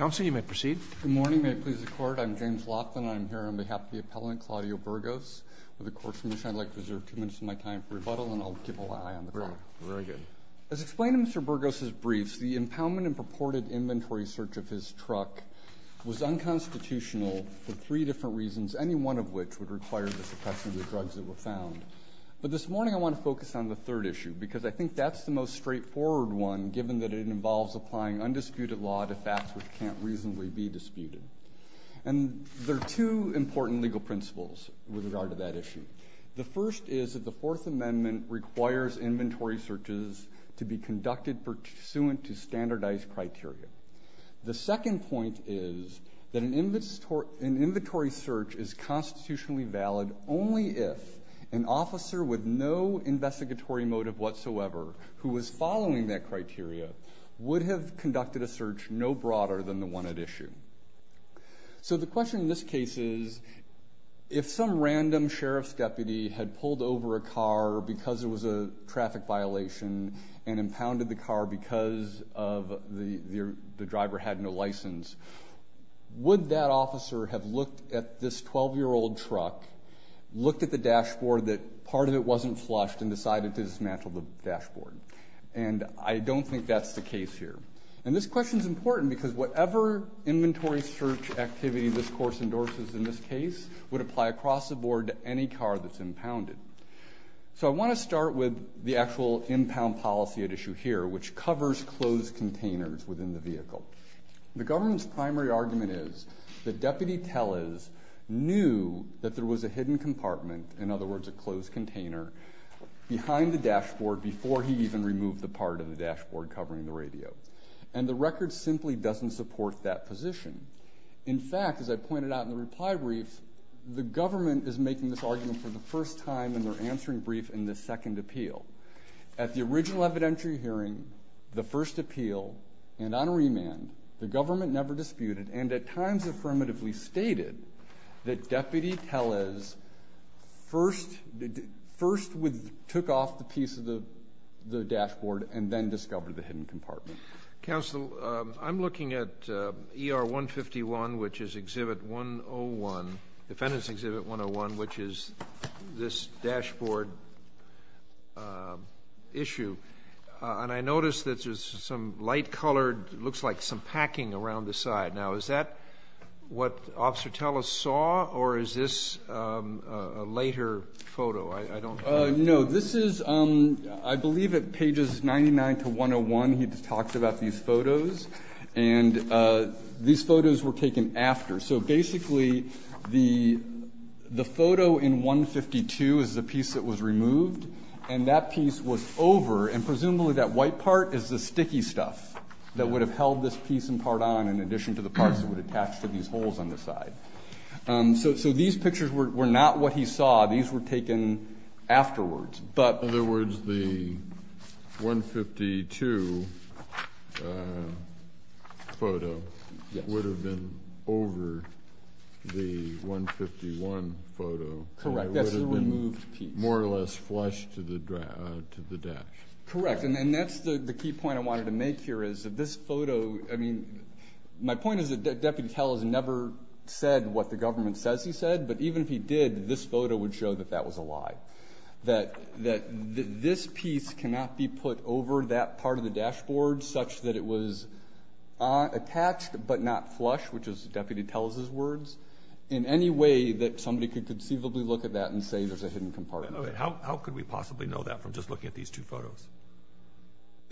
As explained in Mr. Burgos' briefs, the impoundment and purported inventory search of his truck was unconstitutional for three different reasons, any one of which would require the suppression of the drugs that were found. But this morning I want to focus on the third issue because I think that's the most straightforward one given that it involves applying undisputed law to facts which can't reasonably be disputed. And there are two important legal principles with regard to that issue. The first is that the Fourth Amendment requires inventory searches to be conducted pursuant to standardized criteria. The second point is that an inventory search is constitutionally valid only if an officer with no investigatory motive whatsoever who was following that criteria would have conducted a search no broader than the one at issue. So the question in this case is, if some random sheriff's deputy had pulled over a car because it was a traffic violation and impounded the car because the driver had no license, would that officer have looked at this 12-year-old truck, looked at the dashboard that part of it wasn't flushed and decided to dismantle the dashboard? And I don't think that's the case here. And this question is important because whatever inventory search activity this course endorses in this case would apply across the board to any car that's impounded. So I want to start with the actual impound policy at issue here, which covers closed containers within the vehicle. The government's primary argument is that Deputy Tellez knew that there was a hidden compartment, in other words a closed container, behind the dashboard before he even removed the part of the dashboard covering the radio. And the record simply doesn't support that position. In fact, as I pointed out in the reply brief, the government is making this argument for the first time in their answering brief in this second appeal. At the original evidentiary hearing, the first appeal, and on remand, the government never disputed and at times affirmatively stated that Deputy Tellez first took off the piece of the dashboard and then discovered the hidden compartment. Counsel, I'm looking at ER 151, which is Exhibit 101, Defendant's Exhibit 101, which is this dashboard issue, and I noticed that there's some light colored, looks like some packing around the side. Now is that what Officer Tellez saw or is this a later photo? I don't know. No. This is, I believe at pages 99 to 101, he talked about these photos, and these photos were taken after. So basically, the photo in 152 is the piece that was removed and that piece was over and presumably that white part is the sticky stuff that would have held this piece and part on in addition to the parts that would attach to these holes on the side. So these pictures were not what he saw. These were taken afterwards. In other words, the 152 photo would have been over the 151 photo. Correct. That's the removed piece. It would have been more or less flush to the dash. Correct. And that's the key point I wanted to make here is that this photo, I mean, my point is that Deputy Tellez never said what the government says he said, but even if he did, this photo would show that that was a lie, that this piece cannot be put over that part of the dashboard such that it was attached but not flush, which is Deputy Tellez's words, in any way that somebody could conceivably look at that and say there's a hidden compartment. How could we possibly know that from just looking at these two photos?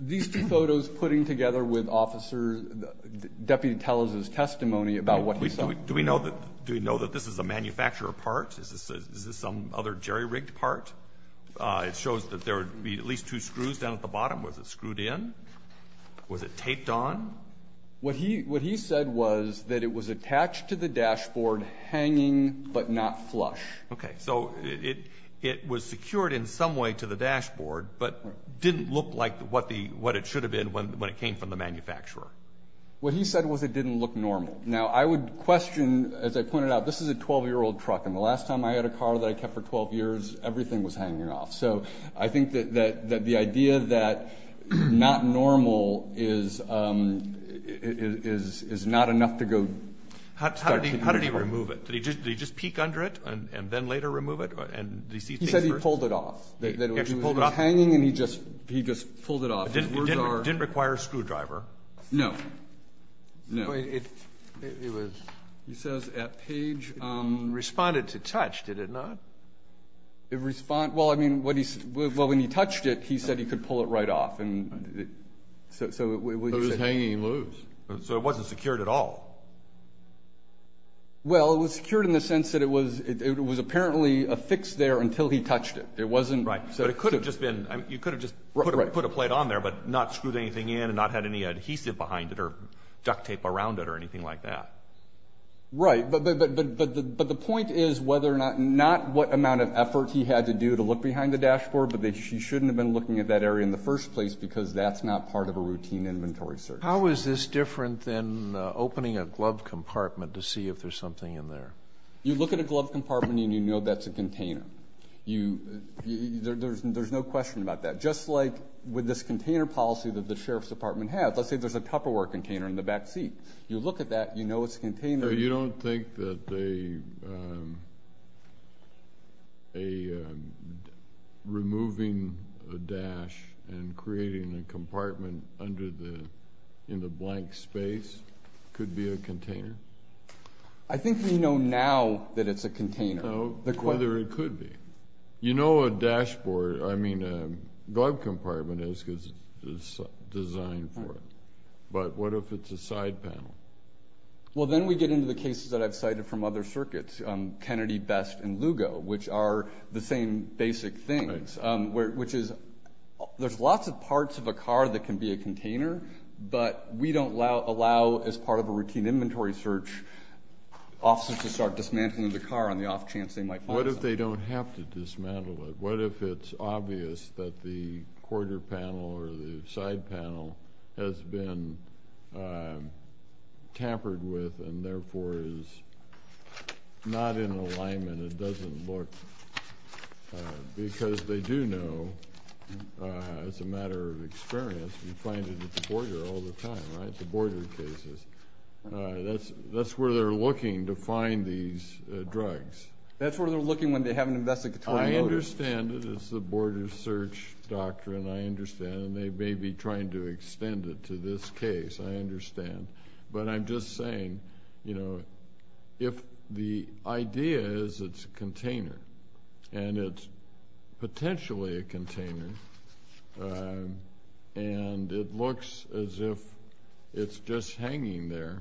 These two photos putting together with Deputy Tellez's testimony about what he saw. Do we know that this is a manufacturer part? Is this some other jerry-rigged part? It shows that there would be at least two screws down at the bottom. Was it screwed in? Was it taped on? What he said was that it was attached to the dashboard, hanging, but not flush. Okay. So it was secured in some way to the dashboard, but didn't look like what it should have been when it came from the manufacturer. What he said was it didn't look normal. Now I would question, as I pointed out, this is a 12-year-old truck. And the last time I had a car that I kept for 12 years, everything was hanging off. So I think that the idea that not normal is not enough to go start to think about. How did he remove it? Did he just peek under it and then later remove it? And did he see things first? He said he pulled it off. He actually pulled it off? It was hanging and he just pulled it off. It didn't require a screwdriver? No. No. I mean, it was, he says, at page... Responded to touch, did it not? It respond... Well, I mean, when he touched it, he said he could pull it right off, and so it was just... But it was hanging loose. So it wasn't secured at all? Well, it was secured in the sense that it was apparently affixed there until he touched it. It wasn't... Right. But it could have just been... You could have just put a plate on there, but not screwed anything in and not had any Right. But the point is whether or not, not what amount of effort he had to do to look behind the dashboard, but that he shouldn't have been looking at that area in the first place because that's not part of a routine inventory search. How is this different than opening a glove compartment to see if there's something in there? You look at a glove compartment and you know that's a container. There's no question about that. Just like with this container policy that the Sheriff's Department has, let's say there's a Tupperware container in the back seat. You look at that, you know it's a container. You don't think that removing a dash and creating a compartment in the blank space could be a container? I think we know now that it's a container. No, whether it could be. You know a glove compartment is designed for it, but what if it's a side panel? Well then we get into the cases that I've cited from other circuits, Kennedy, Best, and Lugo, which are the same basic things. There's lots of parts of a car that can be a container, but we don't allow, as part of a routine inventory search, officers to start dismantling the car on the off chance they might find something. What if they don't have to dismantle it? What if it's obvious that the quarter panel or the side panel has been tampered with and therefore is not in alignment, it doesn't look, because they do know, as a matter of experience, you find it at the border all the time, right, the border cases. That's where they're looking to find these drugs. That's where they're looking when they have an investigatory notice. I understand it, it's the border search doctrine, I understand, and they may be trying to extend it to this case, I understand, but I'm just saying, you know, if the idea is it's a container, and it's potentially a container, and it looks as if it's just hanging there,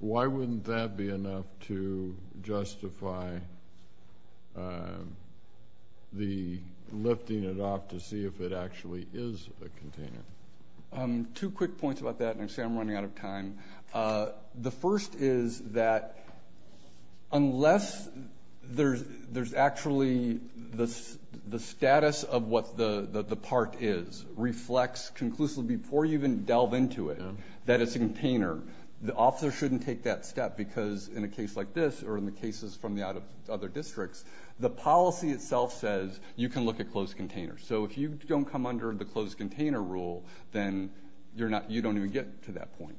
why wouldn't that be enough to justify the lifting it off to see if it actually is a container? Two quick points about that, and I'm running out of time. The first is that unless there's actually the status of what the part is reflects conclusively before you even delve into it, that it's a container, the officer shouldn't take that step because in a case like this, or in the cases from the other districts, the policy itself says you can look at closed containers. So if you don't come under the closed container rule, then you don't even get to that point.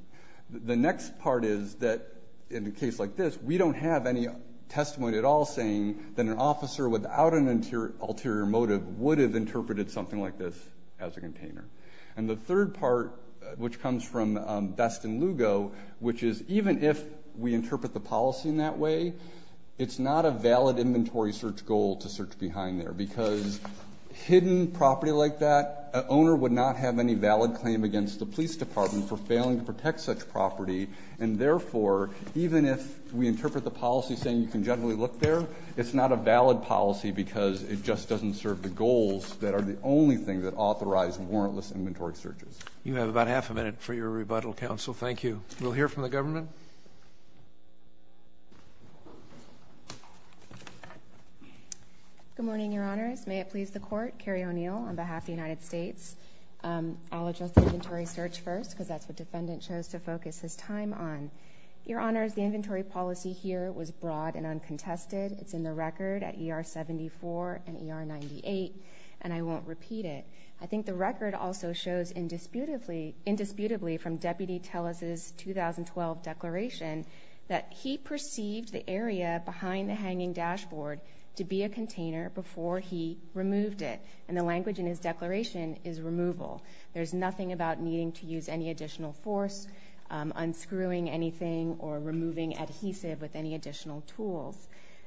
The next part is that in a case like this, we don't have any testimony at all saying that an officer without an ulterior motive would have interpreted something like this as a container. And the third part, which comes from Best and Lugo, which is even if we interpret the policy in that way, it's not a valid inventory search goal to search behind there because hidden property like that, an owner would not have any valid claim against the police department for failing to protect such property, and therefore, even if we interpret the policy saying you can generally look there, it's not a valid policy because it just doesn't serve the goals that are the only thing that authorize warrantless inventory searches. You have about half a minute for your rebuttal, counsel. Thank you. We'll hear from the government. Good morning, Your Honors. May it please the Court. Carrie O'Neill on behalf of the United States. I'll address the inventory search first because that's what the defendant chose to focus his time on. Your Honors, the inventory policy here was broad and uncontested. It's in the record at ER 74 and ER 98, and I won't repeat it. I think the record also shows indisputably from Deputy Tellez's 2012 declaration that he perceived the area behind the hanging dashboard to be a container before he removed it, and the language in his declaration is removal. There's nothing about needing to use any additional force, unscrewing anything, or removing adhesive with any additional tools.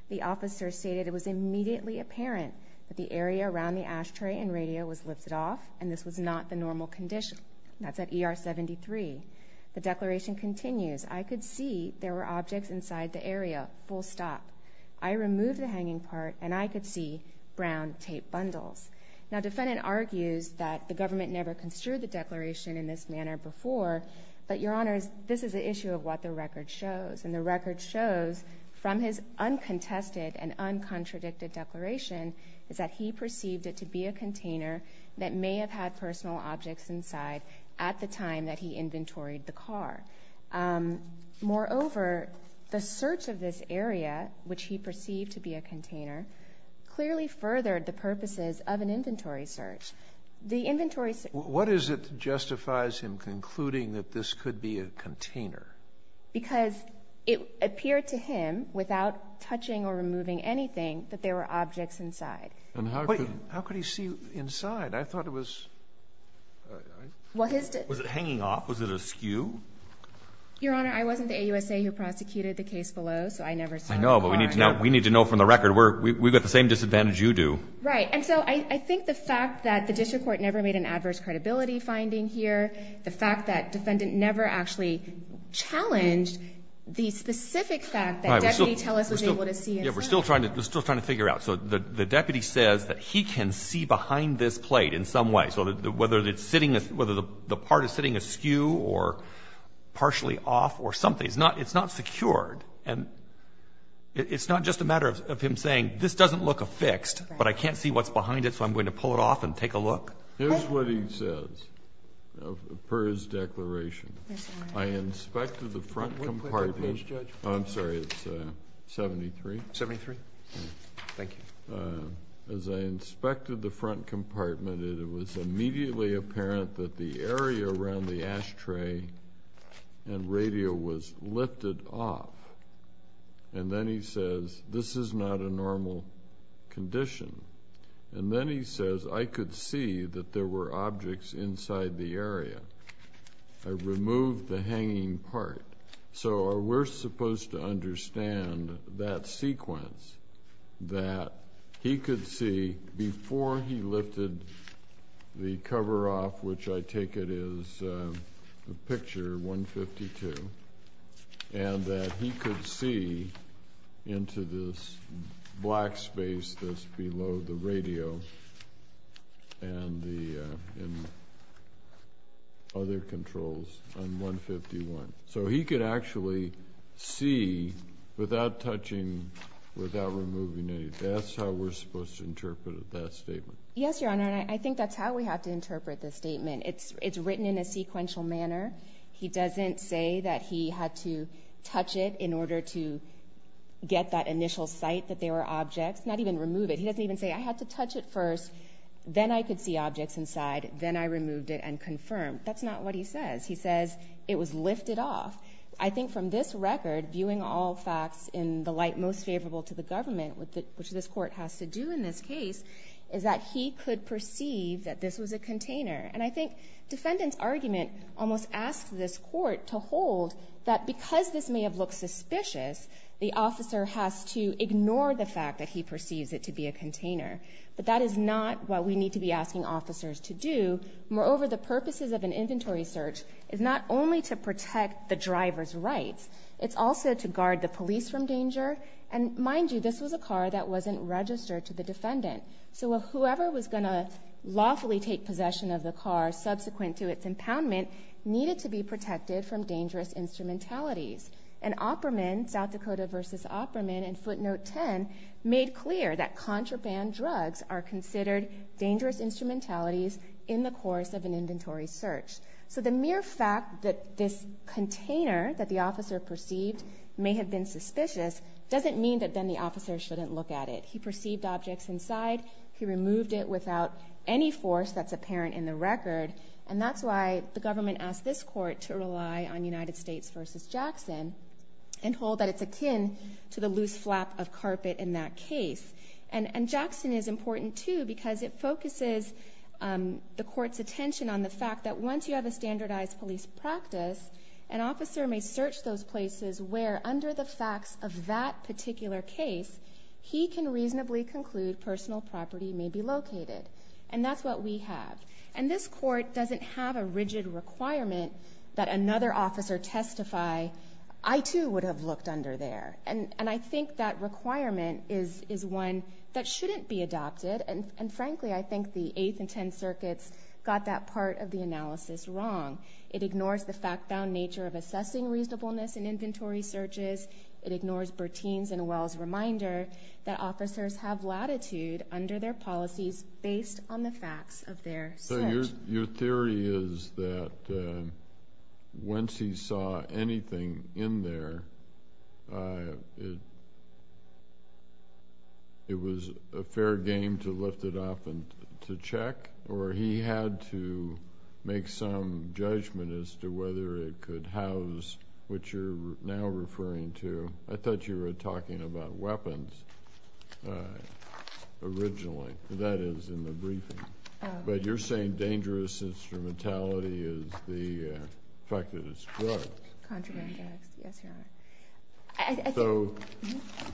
The officer stated it was immediately apparent that the area around the ashtray and radio was lifted off, and this was not the normal condition. That's at ER 73. The declaration continues, I could see there were objects inside the area, full stop. I removed the hanging part, and I could see brown tape bundles. Now, the defendant argues that the government never construed the declaration in this manner before, but Your Honors, this is the issue of what the record shows, and the record shows from his uncontested and uncontradicted declaration is that he perceived it to be a container that may have had personal objects inside at the time that he inventoried the car. Moreover, the search of this area, which he perceived to be a container, clearly furthered the purposes of an inventory search. The inventory search. What is it that justifies him concluding that this could be a container? Because it appeared to him, without touching or removing anything, that there were objects inside. And how could he see inside? I thought it was hanging off. Was it askew? Your Honor, I wasn't the AUSA who prosecuted the case below, so I never saw the car. I know, but we need to know from the record. We've got the same disadvantage you do. Right. And so I think the fact that the district court never made an adverse credibility finding here, the fact that defendant never actually challenged the specific fact that Deputy Tellis was able to see inside. Yeah, we're still trying to figure out. So the deputy says that he can see behind this plate in some way. So whether the part is sitting askew or partially off or something, it's not secured. And it's not just a matter of him saying, this doesn't look affixed, but I can't see what's behind it, so I'm going to pull it off and take a look. Here's what he says, per his declaration. I inspected the front compartment. What plate did it say, Judge? I'm sorry, it's 73. 73? Thank you. As I inspected the front compartment, it was immediately apparent that the area around the ashtray and radio was lifted off. And then he says, this is not a normal condition. And then he says, I could see that there were objects inside the area. I removed the hanging part. So we're supposed to understand that sequence, that he could see before he lifted the cover off, which I take it is a picture, 152, and that he could see into this black space that's below the radio and the other controls on 151. So he could actually see without touching, without removing anything. That's how we're supposed to interpret that statement. Yes, Your Honor. And I think that's how we have to interpret this statement. It's written in a sequential manner. He doesn't say that he had to touch it in order to get that initial sight that there were objects, not even remove it. He doesn't even say, I had to touch it first, then I could see objects inside, then I removed it and confirmed. That's not what he says. He says, it was lifted off. I think from this record, viewing all facts in the light most favorable to the government, which this court has to do in this case, is that he could perceive that this was a container. And I think defendant's argument almost asks this court to hold that because this may have looked suspicious, the officer has to ignore the fact that he perceives it to be a container. But that is not what we need to be asking officers to do. Moreover, the purposes of an inventory search is not only to protect the driver's rights, it's also to guard the police from danger. And mind you, this was a car that wasn't registered to the defendant. So whoever was going to lawfully take possession of the car subsequent to its impoundment needed to be protected from dangerous instrumentalities. And Opperman, South Dakota v. Opperman in footnote 10, made clear that contraband drugs are considered dangerous instrumentalities in the course of an inventory search. So the mere fact that this container that the officer perceived may have been suspicious doesn't mean that then the officer shouldn't look at it. He perceived objects inside. He removed it without any force that's apparent in the record. And that's why the government asked this court to rely on United States v. Jackson and hold that it's akin to the loose flap of carpet in that case. And Jackson is important too because it focuses the court's attention on the fact that once you have a standardized police practice, an officer may search those places where under the facts of that particular case, he can reasonably conclude personal property may be located. And that's what we have. And this court doesn't have a rigid requirement that another officer testify, I too would have looked under there. And I think that requirement is one that shouldn't be adopted. And frankly, I think the 8th and 10th circuits got that part of the analysis wrong. It ignores the fact-bound nature of assessing reasonableness in inventory searches. It ignores Bertin's and Wells' reminder that officers have latitude under their policies based on the facts of their search. Your theory is that once he saw anything in there, it was a fair game to lift it up and to check, or he had to make some judgment as to whether it could house what you're now referring to. I thought you were talking about weapons originally, that is, in the briefing. But you're saying dangerous instrumentality is the fact that it's drugs. Contraband drugs, yes, Your Honor. So,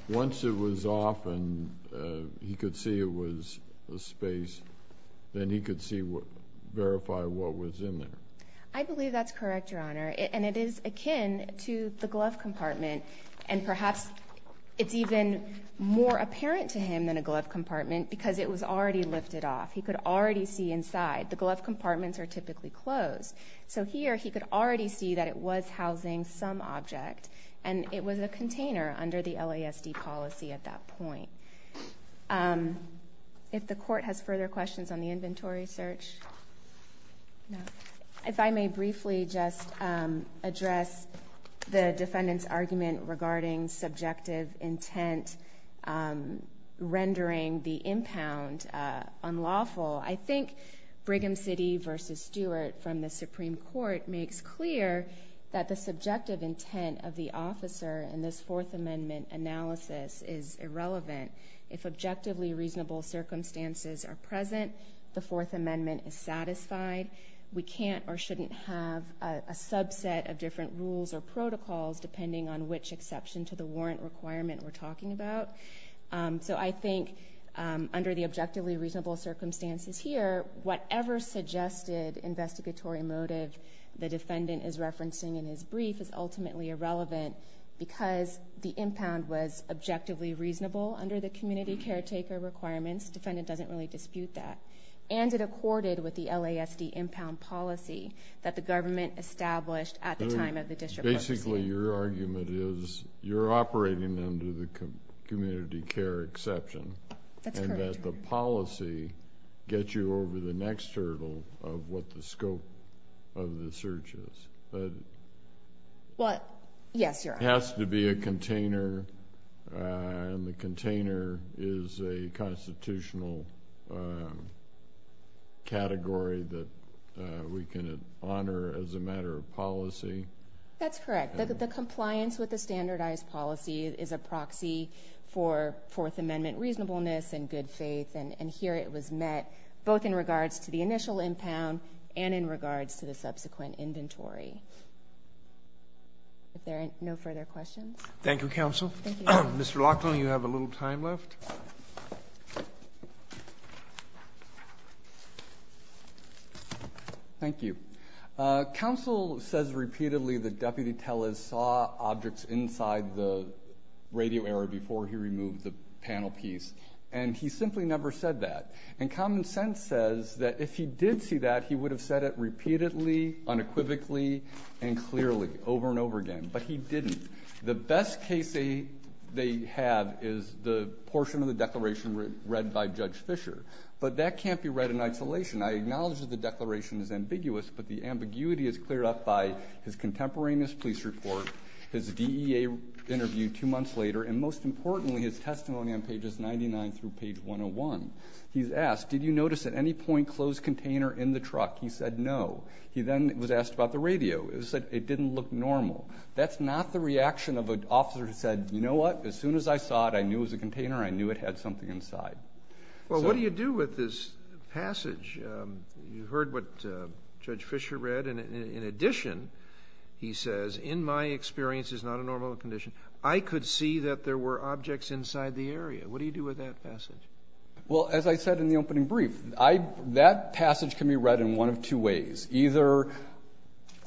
once it was off and he could see it was a space, then he could verify what was in there. I believe that's correct, Your Honor. And it is akin to the glove compartment. And perhaps it's even more apparent to him than a glove compartment because it was already lifted off. He could already see inside. The glove compartments are typically closed. So here, he could already see that it was housing some object, and it was a container under the LASD policy at that point. If the Court has further questions on the inventory search? If I may briefly just address the defendant's argument regarding subjective intent rendering the impound unlawful. I think Brigham City v. Stewart from the Supreme Court makes clear that the subjective intent of the officer in this Fourth Amendment analysis is irrelevant. If objectively reasonable circumstances are present, the Fourth Amendment is satisfied. We can't or shouldn't have a subset of different rules or protocols depending on which exception to the warrant requirement we're talking about. So I think under the objectively reasonable circumstances here, whatever suggested investigatory motive the defendant is referencing in his brief is ultimately irrelevant because the impound was objectively reasonable under the community caretaker requirements. Defendant doesn't really dispute that. And it accorded with the LASD impound policy that the government established at the time of the district court's hearing. So basically your argument is you're operating under the community care exception and that the policy gets you over the next hurdle of what the scope of the search is. Well, yes, Your Honor. It has to be a container and the container is a constitutional category that we can honor as a matter of policy. That's correct. The compliance with the standardized policy is a proxy for Fourth Amendment reasonableness and good faith. And here it was met both in regards to the initial impound and in regards to the subsequent inventory. If there are no further questions. Thank you, counsel. Thank you. Mr. Laughlin, you have a little time left. Thank you. Counsel says repeatedly the deputy tell us saw objects inside the radio area before he removed the panel piece. And he simply never said that. And common sense says that if he did see that, he would have said it repeatedly, unequivocally and clearly over and over again. But he didn't. The best case they have is the portion of the declaration read by Judge Fisher. But that can't be read in isolation. I acknowledge that the declaration is ambiguous, but the ambiguity is cleared up by his contemporaneous police report, his DEA interview two months later, and most importantly, his testimony on pages 99 through page 101. He's asked, did you notice at any point closed container in the truck? He said no. He then was asked about the radio. It didn't look normal. That's not the reaction of an officer who said, you know what, as soon as I saw it, I knew it was a container. I knew it had something inside. Well, what do you do with this passage? You heard what Judge Fisher read. In addition, he says, in my experience, it's not a normal condition. I could see that there were objects inside the area. What do you do with that passage? Well, as I said in the opening brief, that passage can be read in one of two ways. Either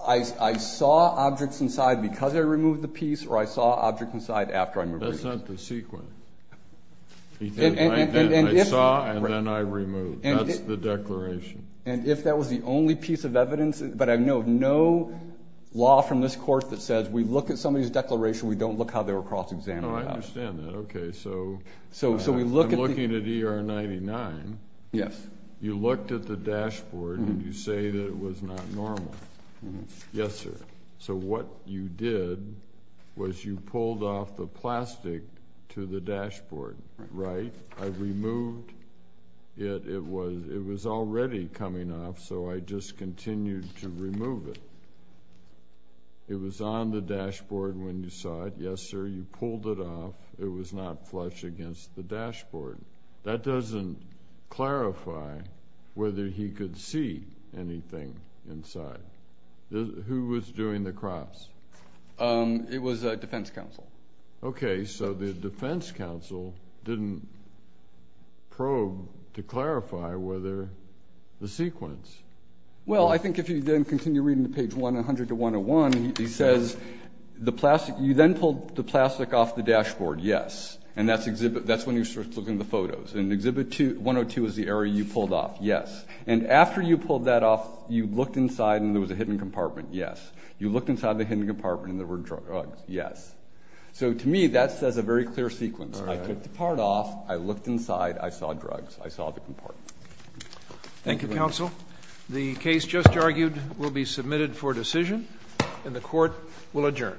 I saw objects inside because I removed the piece, or I saw objects inside after I removed the piece. That's not the sequence. He said, I saw, and then I removed. That's the declaration. And if that was the only piece of evidence, but I know of no law from this court that says we look at somebody's declaration, we don't look how they were cross-examined. No, I understand that. OK, so I'm looking at ER 99. Yes. You looked at the dashboard, and you say that it was not normal. Yes, sir. So what you did was you pulled off the plastic to the dashboard, right? I removed it. It was already coming off, so I just continued to remove it. It was on the dashboard when you saw it. Yes, sir, you pulled it off. It was not flush against the dashboard. That doesn't clarify whether he could see anything inside. Who was doing the crops? It was a defense counsel. OK, so the defense counsel didn't probe to clarify whether the sequence. Well, I think if you then continue reading to page 100 to 101, he says, you then pulled the plastic off the dashboard, yes. And that's when you start looking at the photos. And exhibit 102 is the area you pulled off, yes. And after you pulled that off, you looked inside, and there was a hidden compartment. Yes. You looked inside the hidden compartment, and there were drugs. Yes. So to me, that says a very clear sequence. I took the part off. I looked inside. I saw drugs. I saw the compartment. Thank you, counsel. The case just argued will be submitted for decision, and the Court will adjourn.